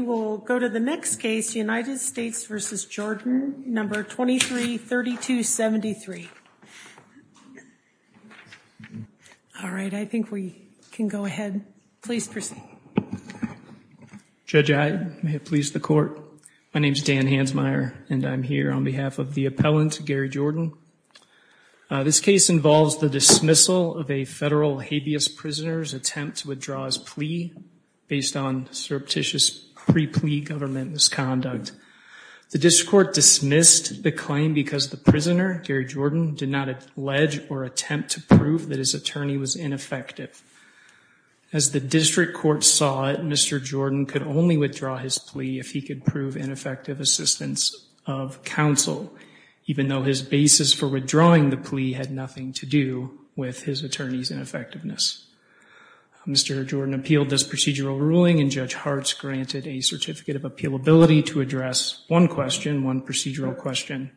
23-3273. All right, I think we can go ahead. Please proceed. Judge, I please the court. My name is Dan Hansmeier and I'm here on behalf of the appellant Gary Jordan. This case involves the dismissal of a federal habeas prisoners attempt to withdraw his plea based on surreptitious pre-plea government misconduct. The district court dismissed the claim because the prisoner, Gary Jordan, did not allege or attempt to prove that his attorney was ineffective. As the district court saw it, Mr. Jordan could only withdraw his plea if he could prove ineffective assistance of counsel, even though his basis for withdrawing the plea had nothing to do with his attorney's ineffectiveness. Mr. Jordan appealed this procedural ruling and Judge Hartz granted a certificate of appealability to address one question, one procedural question,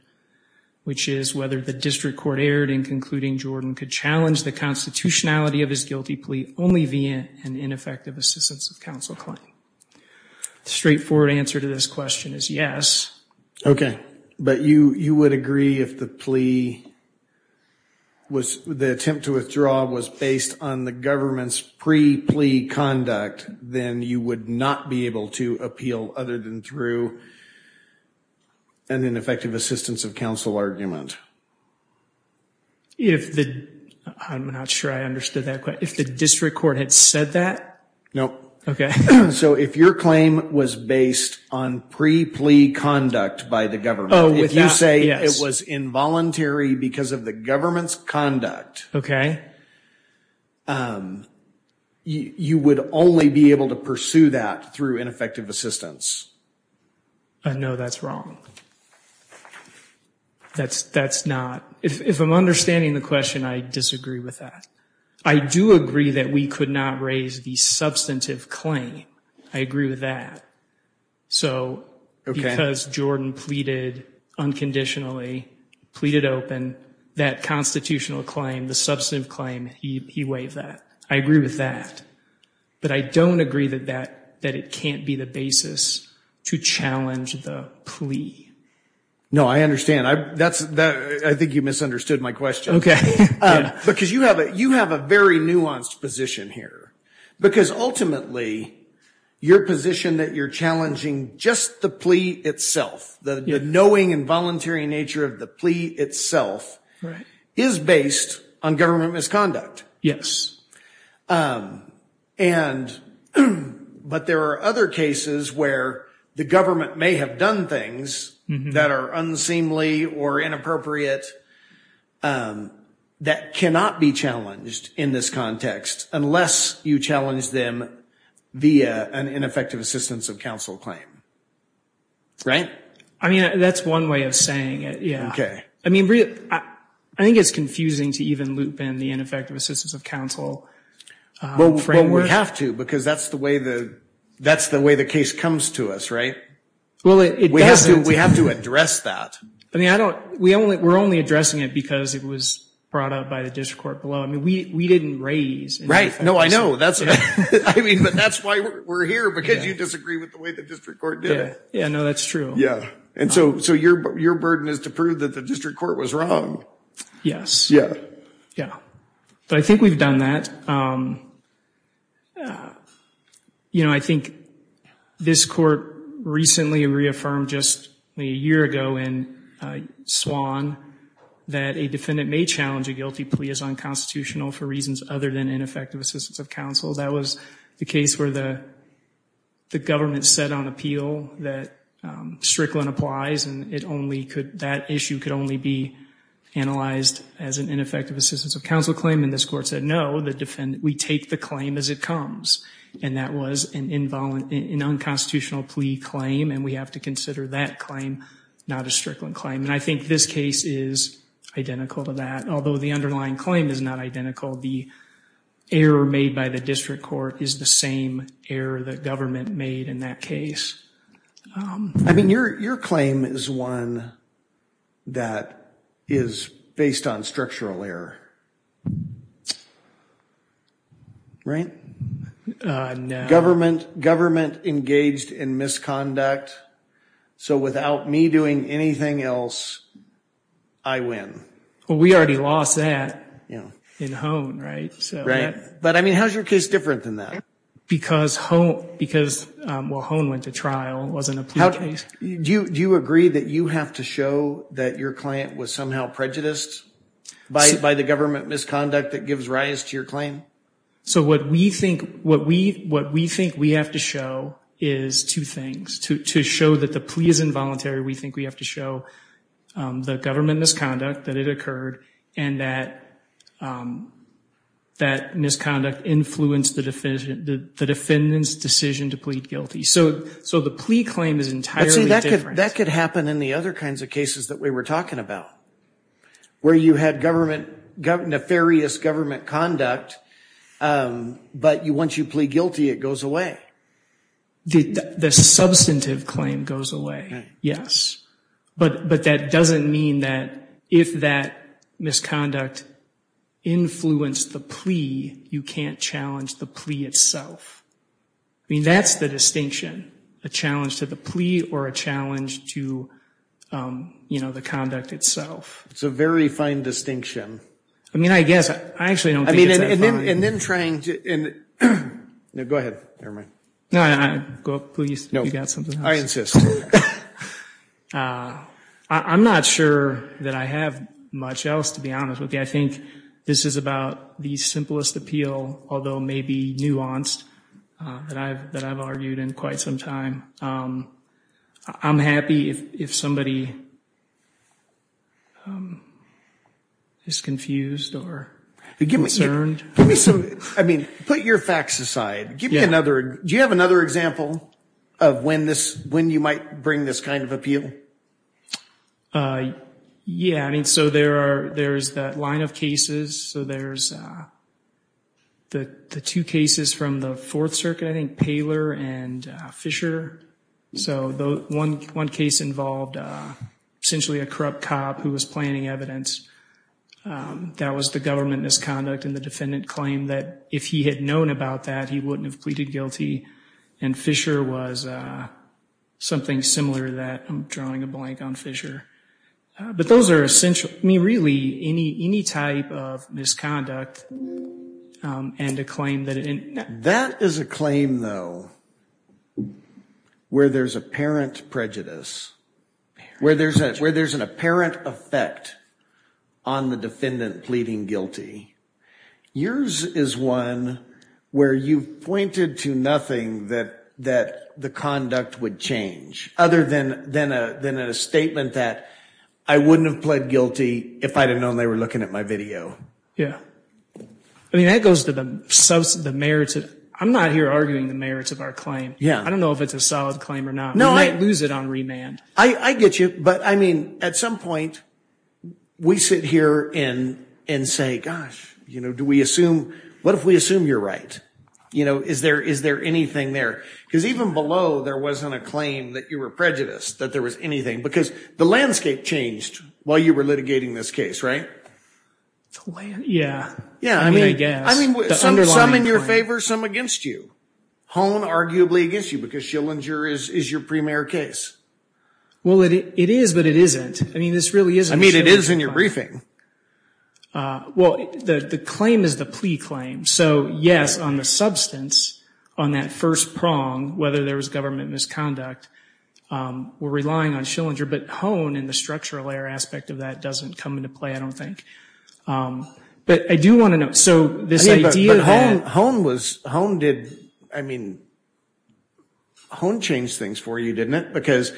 which is whether the district court erred in concluding Jordan could challenge the constitutionality of his guilty plea only via an ineffective assistance of counsel claim. The straightforward answer to this question is yes. Okay, but you you would agree if the plea was the attempt to withdraw was based on the government's pre-plea conduct, then you would not be able to appeal other than through an ineffective assistance of counsel argument. If the, I'm not sure I understood that quite, if the district court had said that? Nope. Okay, so if your claim was based on pre-plea conduct by the government, if you say it was involuntary because of the government's conduct. Okay. You would only be able to pursue that through ineffective assistance. No, that's wrong. That's, that's not, if I'm understanding the question, I disagree with that. I do agree that we could not raise the substantive claim. I agree with that. So, because Jordan pleaded unconditionally, pleaded open, that constitutional claim, the substantive claim, he waived that. I agree with that. But I don't agree that that, that it can't be the basis to challenge the plea. No, I understand. I, that's, I think you misunderstood my question. Okay. Because you have a, you have a very nuanced position here. Because ultimately, your position that you're challenging just the plea itself, the knowing and voluntary nature of the plea itself, is based on government misconduct. Yes. And, but there are other cases where the government may have done things that are unseemly or inappropriate that cannot be challenged in this context, unless you challenge them via an ineffective assistance of counsel claim. Right? I mean, that's one way of saying it. Yeah. Okay. I mean, I think it's confusing to even loop in the ineffective assistance of counsel framework. Well, we have to, because that's the way the, that's the way the case comes to us, right? Well, it doesn't. We have to, we have to address that. I mean, I don't, we only, we're only addressing it because it was brought up by the district court below. I mean, we, we didn't raise. Right. No, I know. That's, I mean, but that's why we're here, because you disagree with the way the district court did it. Yeah, no, that's true. Yeah. And so, so your, your burden is to prove that the district court was wrong. Yes. Yeah. Yeah. But I think we've done that. You know, I think this court recently reaffirmed, just a year ago in Swan, that a defendant may challenge a guilty plea as unconstitutional for reasons other than ineffective assistance of counsel. That was the case where the, the government set on appeal that Strickland applies, and it only could, that issue could only be analyzed as an ineffective assistance of counsel claim. And this court said, no, the defendant, we take the claim as it comes. And that was an involuntary, an unconstitutional plea claim. And we have to consider that claim, not a Strickland claim. And I think this case is identical to that, although the underlying claim is not identical. The error made by the district court is the same error that government made in that case. I mean, your, your claim is one that is based on structural error. Right? Government, government engaged in misconduct, so without me doing anything else, I win. Well, we already lost that in Hone, right? Right. But I mean, how's your case different than that? Because Hone, because, well, Hone went to trial, it wasn't a plea case. Do you, do you agree that you have to show that your client was somehow prejudiced by, by the government misconduct that gives rise to your claim? So what we think, what we, what we think we have to show is two things. To, to show that the plea is involuntary, we think we have to show the government misconduct, that it occurred, and that, that misconduct influenced the defendant, the defendant's decision to plead guilty. So, so the plea claim is entirely different. But see, that could, that could happen in the other kinds of cases that we were talking about, where you had government, nefarious government conduct, but you, once you plead guilty, it goes away. The, the substantive claim goes away. Yes. But, but that doesn't mean that if that misconduct influenced the plea, you can't challenge the plea itself. I mean, that's the distinction, a challenge to the plea or a challenge to, you know, the conduct itself. It's a very fine distinction. I mean, I guess, I actually don't think it's that fine. I mean, and then, and then trying to, and, no, go ahead, never mind. No, no, go, please, you've got something else. No, I insist. I'm not sure that I have much else, to be honest with you. I think this is about the simplest appeal, although maybe nuanced, that I've, that I've argued in quite some time. I'm happy if somebody is confused or concerned. Give me some, I mean, put your facts aside. Give me another, do you have another example of when this, when you might bring this kind of appeal? Yeah, I mean, so there are, there's that line of cases. So there's the two cases from the Fourth Circuit, I think, Paler and Fisher. So the one, one case involved essentially a corrupt cop who was planning evidence. That was the government misconduct and the defendant claimed that if he had known about that, he wouldn't have pleaded guilty. And Fisher was something similar to that. I'm drawing a blank on Fisher. But those are essential, I mean, really, any, any type of misconduct and a claim that it... That is a claim, though, where there's apparent prejudice, where there's a, where there's an apparent effect on the defendant pleading guilty. Yours is one where you've pointed to nothing that, that the conduct would change. Other than, than a, than a statement that I wouldn't have pled guilty if I'd have known they were looking at my video. Yeah. I mean, that goes to the merits of, I'm not here arguing the merits of our claim. I don't know if it's a solid claim or not. We might lose it on remand. I get you. But, I mean, at some point, we sit here and, and say, gosh, you know, do we assume, what if we assume you're right? You know, is there, is there anything there? Because even below, there wasn't a claim that you were prejudiced, that there was anything. Because the landscape changed while you were litigating this case, right? Yeah. Yeah. I mean, I guess. I mean, some in your favor, some against you. Hone, arguably, against you because Schillinger is, is your premier case. Well, it, it is, but it isn't. I mean, this really isn't. I mean, it is in your briefing. Well, the, the claim is the plea claim. So, yes, on the substance, on that first prong, whether there was government misconduct, we're relying on Schillinger. But Hone and the structural air aspect of that doesn't come into play, I don't think. But I do want to know. So, this idea that. Hone was, Hone did, I mean, Hone changed things for you, didn't it? Because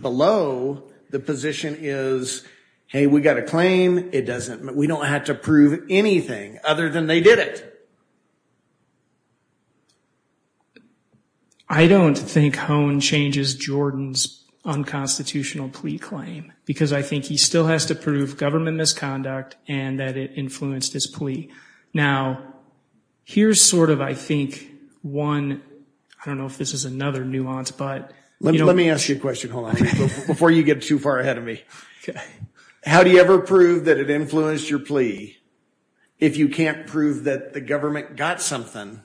below, the position is, hey, we got a claim. It doesn't, we don't have to prove anything other than they did it. I don't think Hone changes Jordan's unconstitutional plea claim. Because I think he still has to prove government misconduct and that it influenced his plea. Now, here's sort of, I think, one, I don't know if this is another nuance, but. Let me ask you a question, Hone, before you get too far ahead of me. How do you ever prove that it influenced your plea if you can't prove that the government got something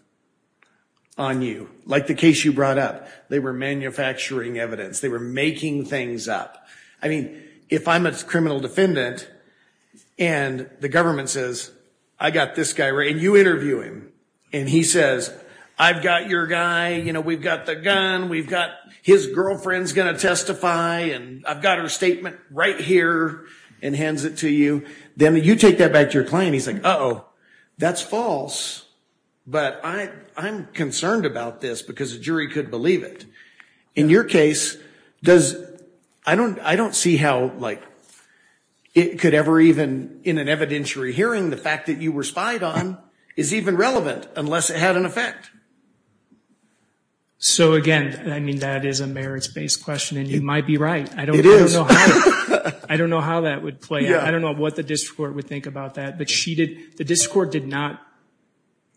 on you? Like the case you brought up. They were manufacturing evidence. They were making things up. I mean, if I'm a criminal defendant, and the government says, I got this guy. And you interview him. And he says, I've got your guy. You know, we've got the gun. We've got, his girlfriend's going to testify. And I've got her statement right here. And hands it to you. Then you take that back to your client. And he's like, uh-oh, that's false. But I'm concerned about this because a jury could believe it. In your case, does, I don't see how, like, it could ever even, in an evidentiary hearing, the fact that you were spied on is even relevant unless it had an effect. So, again, I mean, that is a merits-based question. And you might be right. It is. I don't know how that would play out. I don't know what the district court would think about that. But she did, the district court did not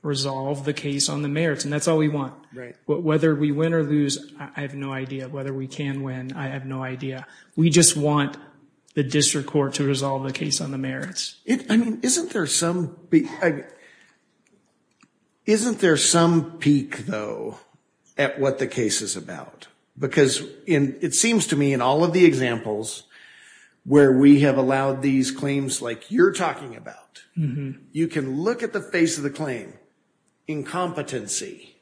resolve the case on the merits. And that's all we want. Right. Whether we win or lose, I have no idea. Whether we can win, I have no idea. We just want the district court to resolve the case on the merits. I mean, isn't there some, isn't there some peak, though, at what the case is about? Because it seems to me in all of the examples where we have allowed these claims like you're talking about, you can look at the face of the claim, incompetency,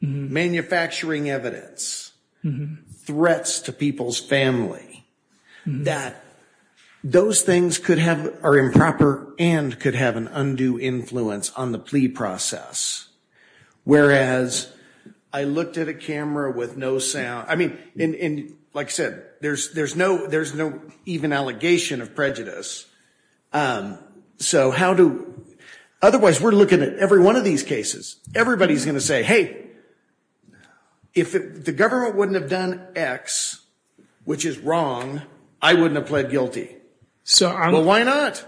manufacturing evidence, threats to people's family, that those things could have, are improper and could have an undue influence on the plea process. Whereas, I looked at a camera with no sound. I mean, like I said, there's no even allegation of prejudice. So how do, otherwise we're looking at every one of these cases. Everybody's going to say, hey, if the government wouldn't have done X, which is wrong, I wouldn't have pled guilty. Well, why not?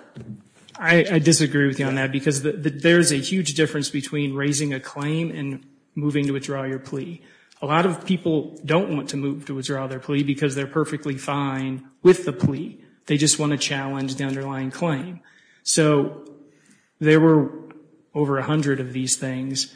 I disagree with you on that because there's a huge difference between raising a claim and moving to withdraw your plea. A lot of people don't want to move to withdraw their plea because they're perfectly fine with the plea. They just want to challenge the underlying claim. So there were over a hundred of these things.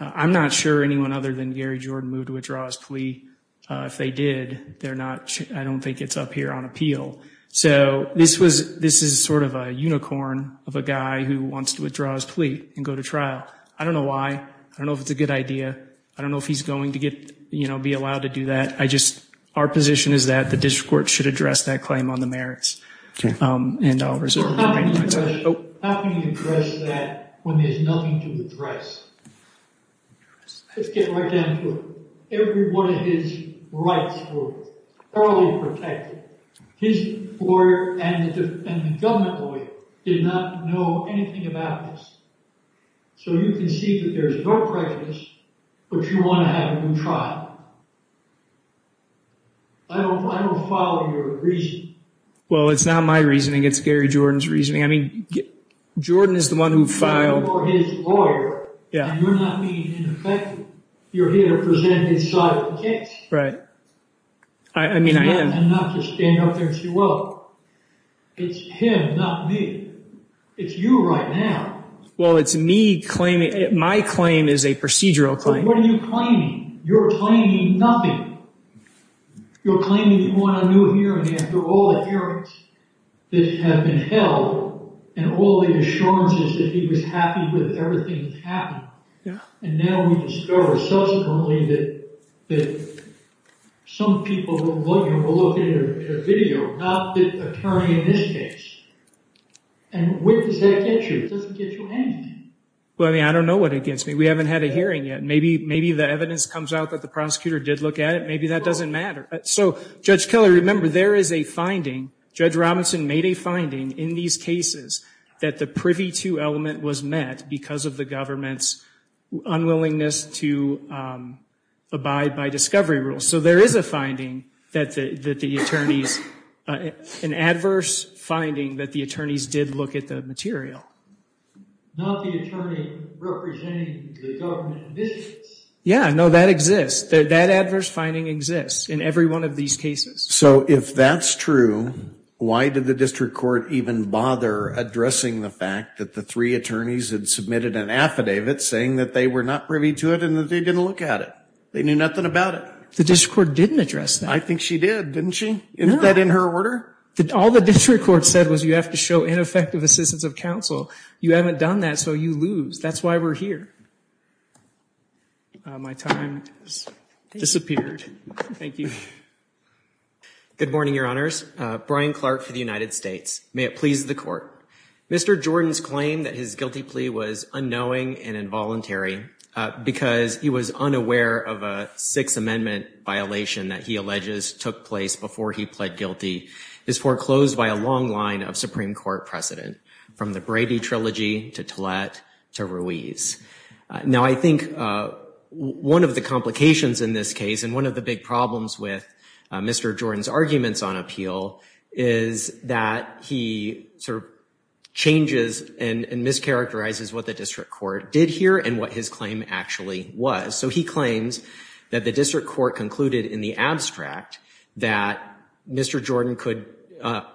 I'm not sure anyone other than Gary Jordan moved to withdraw his plea. If they did, they're not, I don't think it's up here on appeal. So this was, this is sort of a unicorn of a guy who wants to withdraw his plea and go to trial. I don't know why. I don't know if it's a good idea. I don't know if he's going to get, you know, be allowed to do that. Our position is that the district court should address that claim on the merits. How can you address that when there's nothing to address? Let's get right down to it. Every one of his rights were thoroughly protected. His lawyer and the government lawyer did not know anything about this. So you can see that there's no prejudice, but you want to have a new trial. I don't follow your reasoning. Well, it's not my reasoning. It's Gary Jordan's reasoning. I mean, Jordan is the one who filed... You're his lawyer, and you're not being ineffective. You're here to present his side of the case. Right. I mean, I am. And not to stand up there and say, well, it's him, not me. It's you right now. Well, it's me claiming... My claim is a procedural claim. But what are you claiming? You're claiming nothing. You're claiming you want a new hearing after all the hearings that have been held and all the assurances that he was happy with everything that's happened. And now we discover subsequently that some people will look at a video, not the attorney in this case, and what does that get you? It doesn't get you anything. Well, I mean, I don't know what it gets me. We haven't had a hearing yet. Maybe the evidence comes out that the prosecutor did look at it. Maybe that doesn't matter. So, Judge Keller, remember, there is a finding. Judge Robinson made a finding in these cases that the privy to element was met because of the government's unwillingness to abide by discovery rules. So there is a finding that the attorneys... an adverse finding that the attorneys did look at the material. Not the attorney representing the government admissions. Yeah, no, that exists. That adverse finding exists in every one of these cases. So if that's true, why did the district court even bother addressing the fact that the three attorneys had submitted an affidavit saying that they were not privy to it and that they didn't look at it? They knew nothing about it. The district court didn't address that. I think she did, didn't she? Isn't that in her order? All the district court said was you have to show ineffective assistance of counsel. You haven't done that, so you lose. That's why we're here. My time has disappeared. Thank you. Good morning, Your Honors. Brian Clark for the United States. May it please the Court. Mr. Jordan's claim that his guilty plea was unknowing and involuntary because he was unaware of a Sixth Amendment violation that he alleges took place before he pled guilty is foreclosed by a long line of Supreme Court precedent, from the Brady Trilogy to Tillett to Ruiz. Now, I think one of the complications in this case and one of the big problems with Mr. Jordan's arguments on appeal is that he sort of changes and mischaracterizes what the district court did here and what his claim actually was. So he claims that the district court concluded in the abstract that Mr. Jordan could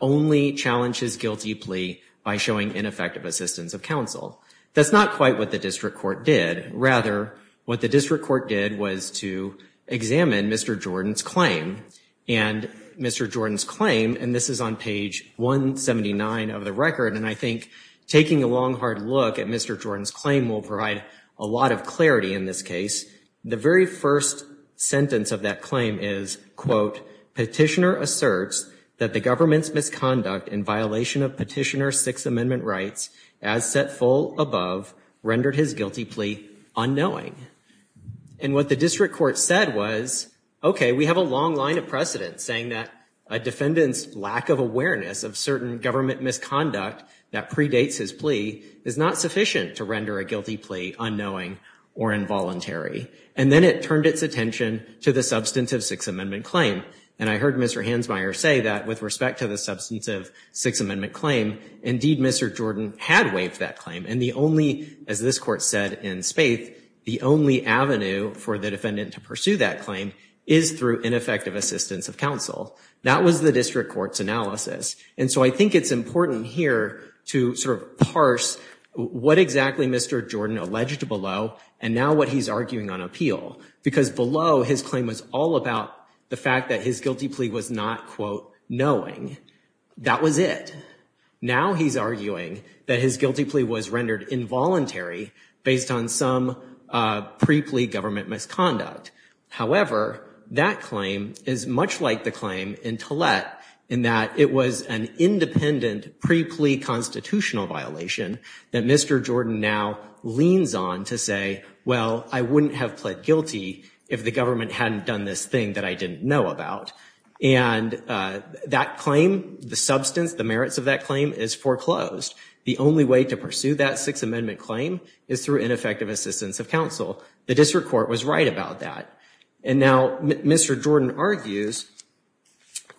only challenge his guilty plea by showing ineffective assistance of counsel. That's not quite what the district court did. Rather, what the district court did was to examine Mr. Jordan's claim. And Mr. Jordan's claim, and this is on page 179 of the record, and I think taking a long, hard look at Mr. Jordan's claim will provide a lot of clarity in this case. The very first sentence of that claim is, quote, Petitioner asserts that the government's misconduct in violation of Petitioner's Sixth Amendment rights, as set full above, rendered his guilty plea unknowing. And what the district court said was, okay, we have a long line of precedent saying that a defendant's lack of awareness of certain government misconduct that predates his plea is not sufficient to render a guilty plea unknowing or involuntary. And then it turned its attention to the substantive Sixth Amendment claim. And I heard Mr. Hansmeier say that with respect to the substantive Sixth Amendment claim, indeed, Mr. Jordan had waived that claim. And the only, as this court said in space, the only avenue for the defendant to pursue that claim is through ineffective assistance of counsel. That was the district court's analysis. And so I think it's important here to sort of parse what exactly Mr. Jordan alleged below, and now what he's arguing on appeal. Because below, his claim was all about the fact that his guilty plea was not, quote, knowing. That was it. Now he's arguing that his guilty plea was rendered involuntary based on some pre-plea government misconduct. However, that claim is much like the claim in Talet in that it was an independent pre-plea constitutional violation that Mr. Jordan now leans on to say, well, I wouldn't have pled guilty if the government hadn't done this thing that I didn't know about. And that claim, the substance, the merits of that claim is foreclosed. The only way to pursue that Sixth Amendment claim is through ineffective assistance of counsel. The district court was right about that. And now Mr. Jordan argues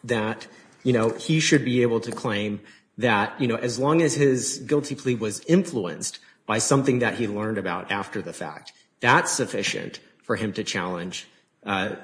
that, you know, he should be able to claim that, you know, as long as his guilty plea was influenced by something that he learned about after the fact, that's sufficient for him to challenge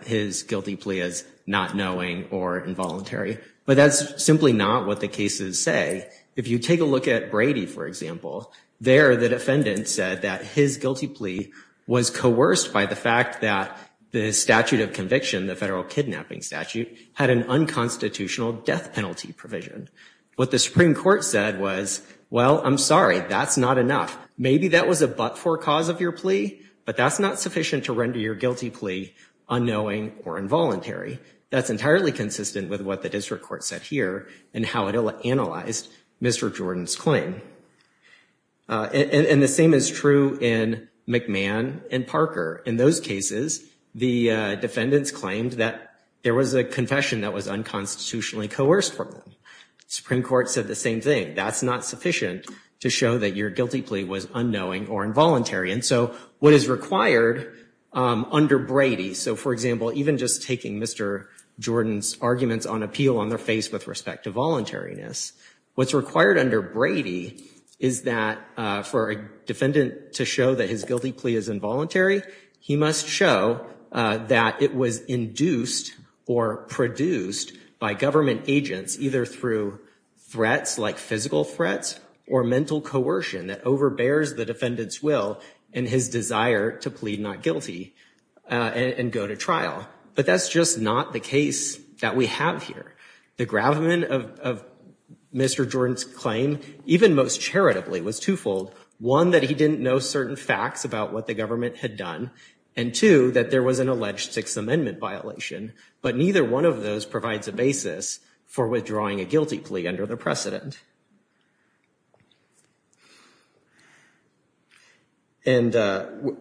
his guilty plea as not knowing or involuntary. But that's simply not what the cases say. If you take a look at Brady, for example, there the defendant said that his guilty plea was coerced by the fact that the statute of conviction, the federal kidnapping statute, had an unconstitutional death penalty provision. What the Supreme Court said was, well, I'm sorry, that's not enough. Maybe that was a but-for cause of your plea, but that's not sufficient to render your guilty plea unknowing or involuntary. That's entirely consistent with what the district court said here and how it analyzed Mr. Jordan's claim. And the same is true in McMahon and Parker. In those cases, the defendants claimed that there was a confession that was unconstitutionally coerced for them. The Supreme Court said the same thing. That's not sufficient to show that your guilty plea was unknowing or involuntary. And so what is required under Brady, so, for example, even just taking Mr. Jordan's arguments on appeal on their face with respect to voluntariness, what's required under Brady is that for a defendant to show that his guilty plea is involuntary, he must show that it was induced or produced by government agents either through threats like physical threats or mental coercion that overbears the defendant's will and his desire to plead not guilty and go to trial. But that's just not the case that we have here. The gravamen of Mr. Jordan's claim, even most charitably, was twofold. One, that he didn't know certain facts about what the government had done, and two, that there was an alleged Sixth Amendment violation, but neither one of those provides a basis for withdrawing a guilty plea under the precedent. And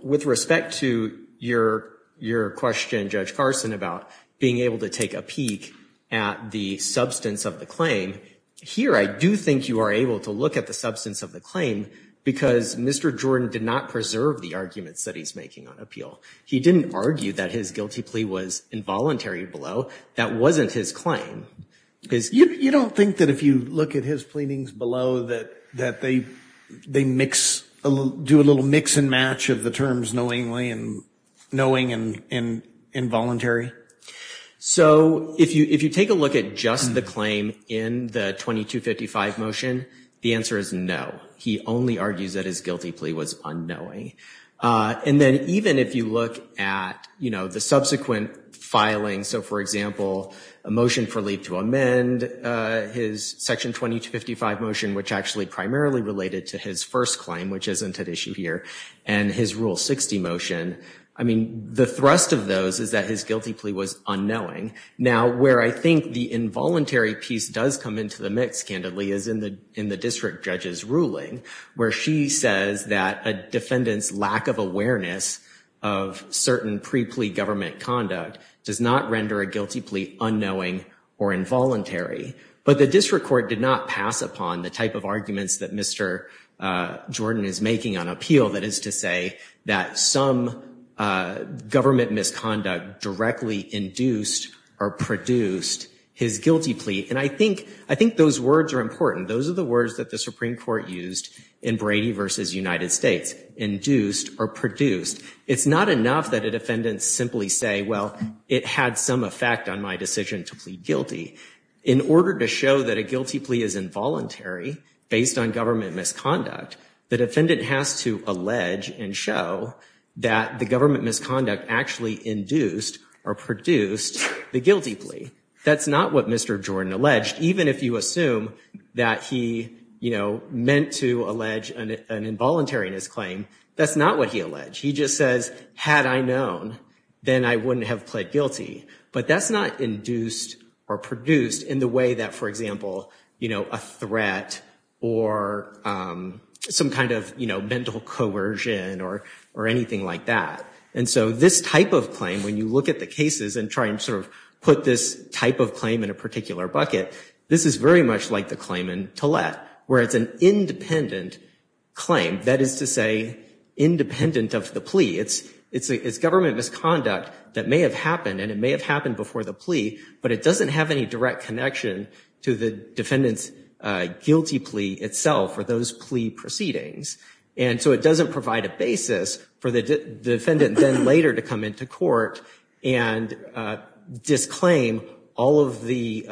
with respect to your question, Judge Carson, about being able to take a peek at the substance of the claim, here I do think you are able to look at the substance of the claim because Mr. Jordan did not preserve the arguments that he's making on appeal. He didn't argue that his guilty plea was involuntary below. That wasn't his claim. You don't think that if you look at his pleadings below that they do a little mix and match of the terms knowingly and knowing and involuntary? So if you take a look at just the claim in the 2255 motion, the answer is no. He only argues that his guilty plea was unknowing. And then even if you look at the subsequent filing, so for example a motion for leave to amend his Section 2255 motion, which actually primarily related to his first claim, which isn't at issue here, and his Rule 60 motion, I mean the thrust of those is that his guilty plea was unknowing. Now where I think the involuntary piece does come into the mix candidly is in the district judge's ruling, where she says that a defendant's lack of awareness of certain pre-plea government conduct does not render a guilty plea unknowing or involuntary. But the district court did not pass upon the type of arguments that Mr. Jordan is making on appeal, that is to say that some government misconduct directly induced or produced his guilty plea. And I think those words are important. Those are the words that the Supreme Court used in Brady v. United States, induced or produced. It's not enough that a defendant simply say, well, it had some effect on my decision to plead guilty. In order to show that a guilty plea is involuntary based on government misconduct, the defendant has to allege and show that the government misconduct actually induced or produced the guilty plea. That's not what Mr. Jordan alleged, even if you assume that he, you know, meant to allege an involuntary in his claim, that's not what he alleged. He just says, had I known, then I wouldn't have pled guilty. But that's not induced or produced in the way that, for example, you know, a threat or some kind of, you know, mental coercion or anything like that. And so this type of claim, when you look at the cases and try and sort of put this type of claim in a particular bucket, this is very much like the claim in Talet, where it's an independent claim, that is to say independent of the plea. It's government misconduct that may have happened and it may have happened before the plea, but it doesn't have any direct connection to the defendant's guilty plea itself or those plea proceedings. And so it doesn't provide a basis for the defendant then later to come into court and disclaim all of the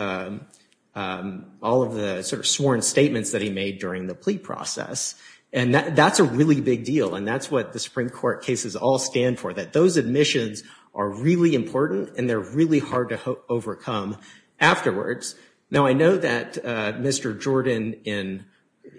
sort of sworn statements that he made during the plea process. And that's a really big deal and that's what the Supreme Court cases all stand for, that those admissions are really important and they're really hard to overcome afterwards Now I know that Mr. Jordan, in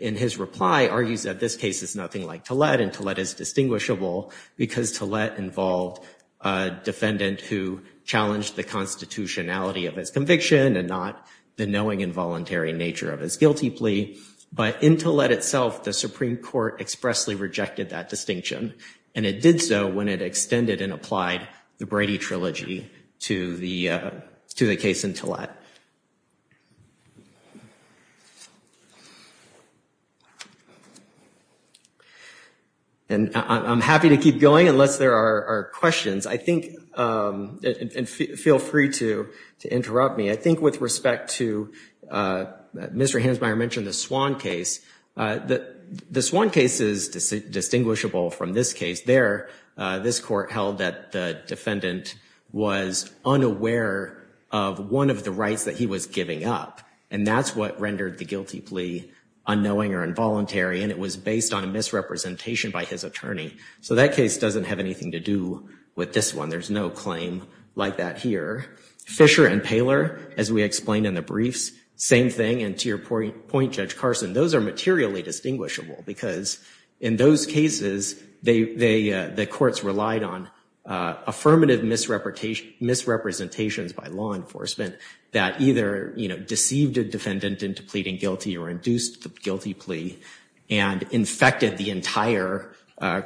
his reply, argues that this case is nothing like Talet and Talet is distinguishable because Talet involved a defendant who challenged the constitutionality of his conviction and not the knowing involuntary nature of his guilty plea. But in Talet itself, the Supreme Court expressly rejected that distinction and it did so when it extended and applied the Brady Trilogy to the case in Talet. And I'm happy to keep going unless there are questions. I think, and feel free to interrupt me, I think with respect to, Mr. Hansmeier mentioned the Swan case. The Swan case is distinguishable from this case. There, this court held that the defendant was unaware of one of the rights that he was giving up and that's what rendered the guilty plea unknowing or involuntary and it was based on a misrepresentation by his attorney. So that case doesn't have anything to do with this one. There's no claim like that here. Fisher and Paylor, as we explained in the briefs, same thing and to your point, Judge Carson, those are materially distinguishable because in those cases, the courts relied on affirmative misrepresentations by law enforcement that either deceived a defendant into pleading guilty or induced the guilty plea and infected the entire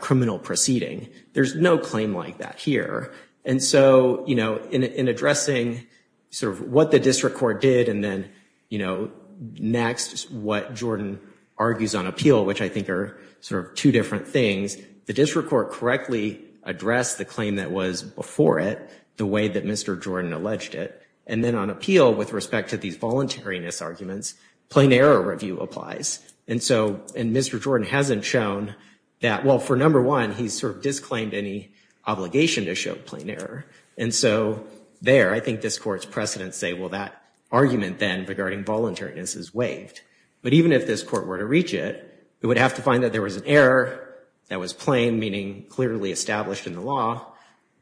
criminal proceeding. There's no claim like that here. And so in addressing sort of what the district court did and then next, what Jordan argues on appeal, which I think are sort of two different things, the district court correctly addressed the claim that was before it the way that Mr. Jordan alleged it and then on appeal, with respect to these voluntariness arguments, plain error review applies and Mr. Jordan hasn't shown that, well, for number one, he sort of disclaimed any obligation to show plain error and so there, I think this court's precedents say, well, that argument then regarding voluntariness is waived but even if this court were to reach it, it would have to find that there was an error that was plain, meaning clearly established in the law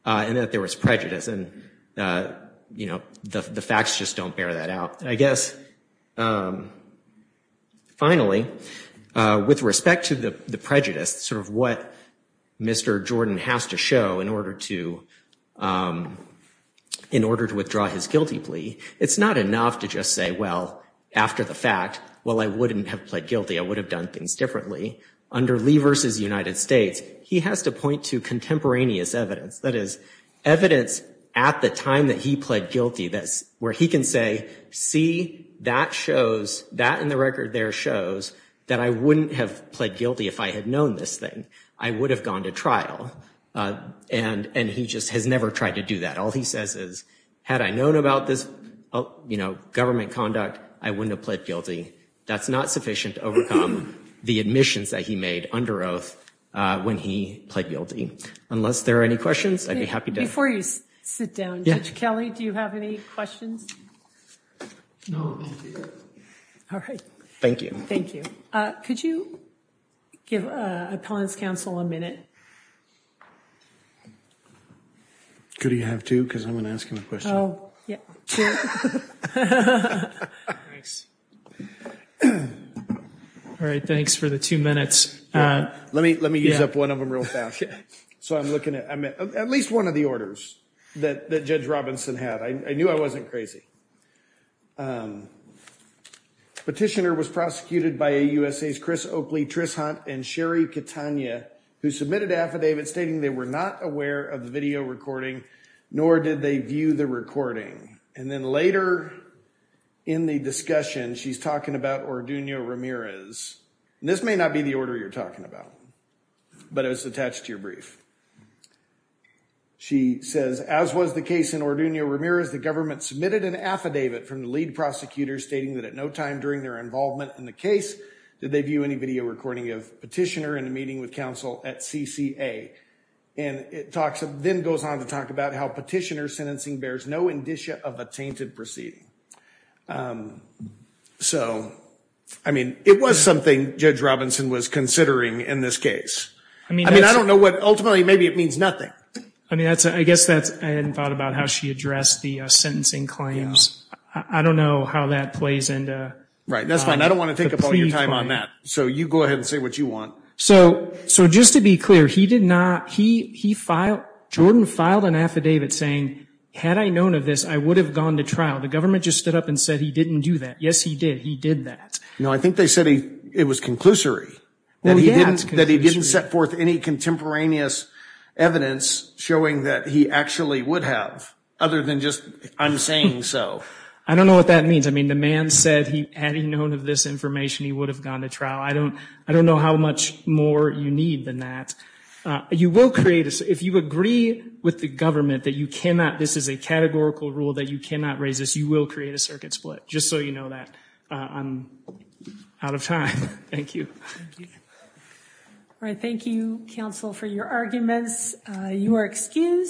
and that there was prejudice and the facts just don't bear that out. I guess, finally, with respect to the prejudice, sort of what Mr. Jordan has to show in order to withdraw his guilty plea, it's not enough to just say, well, after the fact, well, I wouldn't have pled guilty, I would have done things differently. Under Lee versus United States, he has to point to contemporaneous evidence, that is evidence at the time that he pled guilty, that's where he can say, see, that shows, that in the record there shows that I wouldn't have pled guilty if I had known this thing. I would have gone to trial and he just has never tried to do that. All he says is, had I known about this, you know, government conduct, I wouldn't have pled guilty. That's not sufficient to overcome the admissions that he made under oath when he pled guilty. Unless there are any questions, I'd be happy to... Before you sit down, Judge Kelly, do you have any questions? No. All right. Thank you. Thank you. Could you give Appellant's counsel a minute? Could he have to? Because I'm going to ask him a question. Oh, yeah. Sure. Thanks. All right, thanks for the two minutes. Let me use up one of them real fast. So I'm looking at at least one of the orders that Judge Robinson had. I knew I wasn't crazy. Petitioner was prosecuted by AUSA's Chris Oakley, Trish Hunt, and Sherry Catania, who submitted affidavits stating they were not aware of the video recording, nor did they view the recording. And then later in the discussion, she's talking about Orduno Ramirez. And this may not be the order you're talking about, but it was attached to your brief. She says, As was the case in Orduno Ramirez, the government submitted an affidavit from the lead prosecutor stating that at no time during their involvement in the case did they view any video recording of Petitioner in a meeting with counsel at CCA. And it then goes on to talk about how Petitioner's sentencing bears no indicia of a tainted proceeding. So, I mean, it was something Judge Robinson was considering in this case. I mean, I don't know what, ultimately, maybe it means nothing. I mean, I guess that's, I hadn't thought about how she addressed the sentencing claims. I don't know how that plays into... Right, that's fine. I don't want to take up all your time on that. So you go ahead and say what you want. So, just to be clear, he did not, he filed, Jordan filed an affidavit saying, Had I known of this, I would have gone to trial. The government just stood up and said, He didn't do that. Yes, he did. He did that. No, I think they said it was conclusory. That he didn't set forth any contemporaneous evidence showing that he actually would have, other than just, I'm saying so. I don't know what that means. I mean, the man said, Had he known of this information, he would have gone to trial. I don't know how much more you need than that. You will create, if you agree with the government that you cannot, this is a categorical rule, that you cannot raise this, you will create a circuit split. Just so you know that. I'm out of time. Thank you. Thank you. All right. Thank you, counsel, for your arguments. You are excused.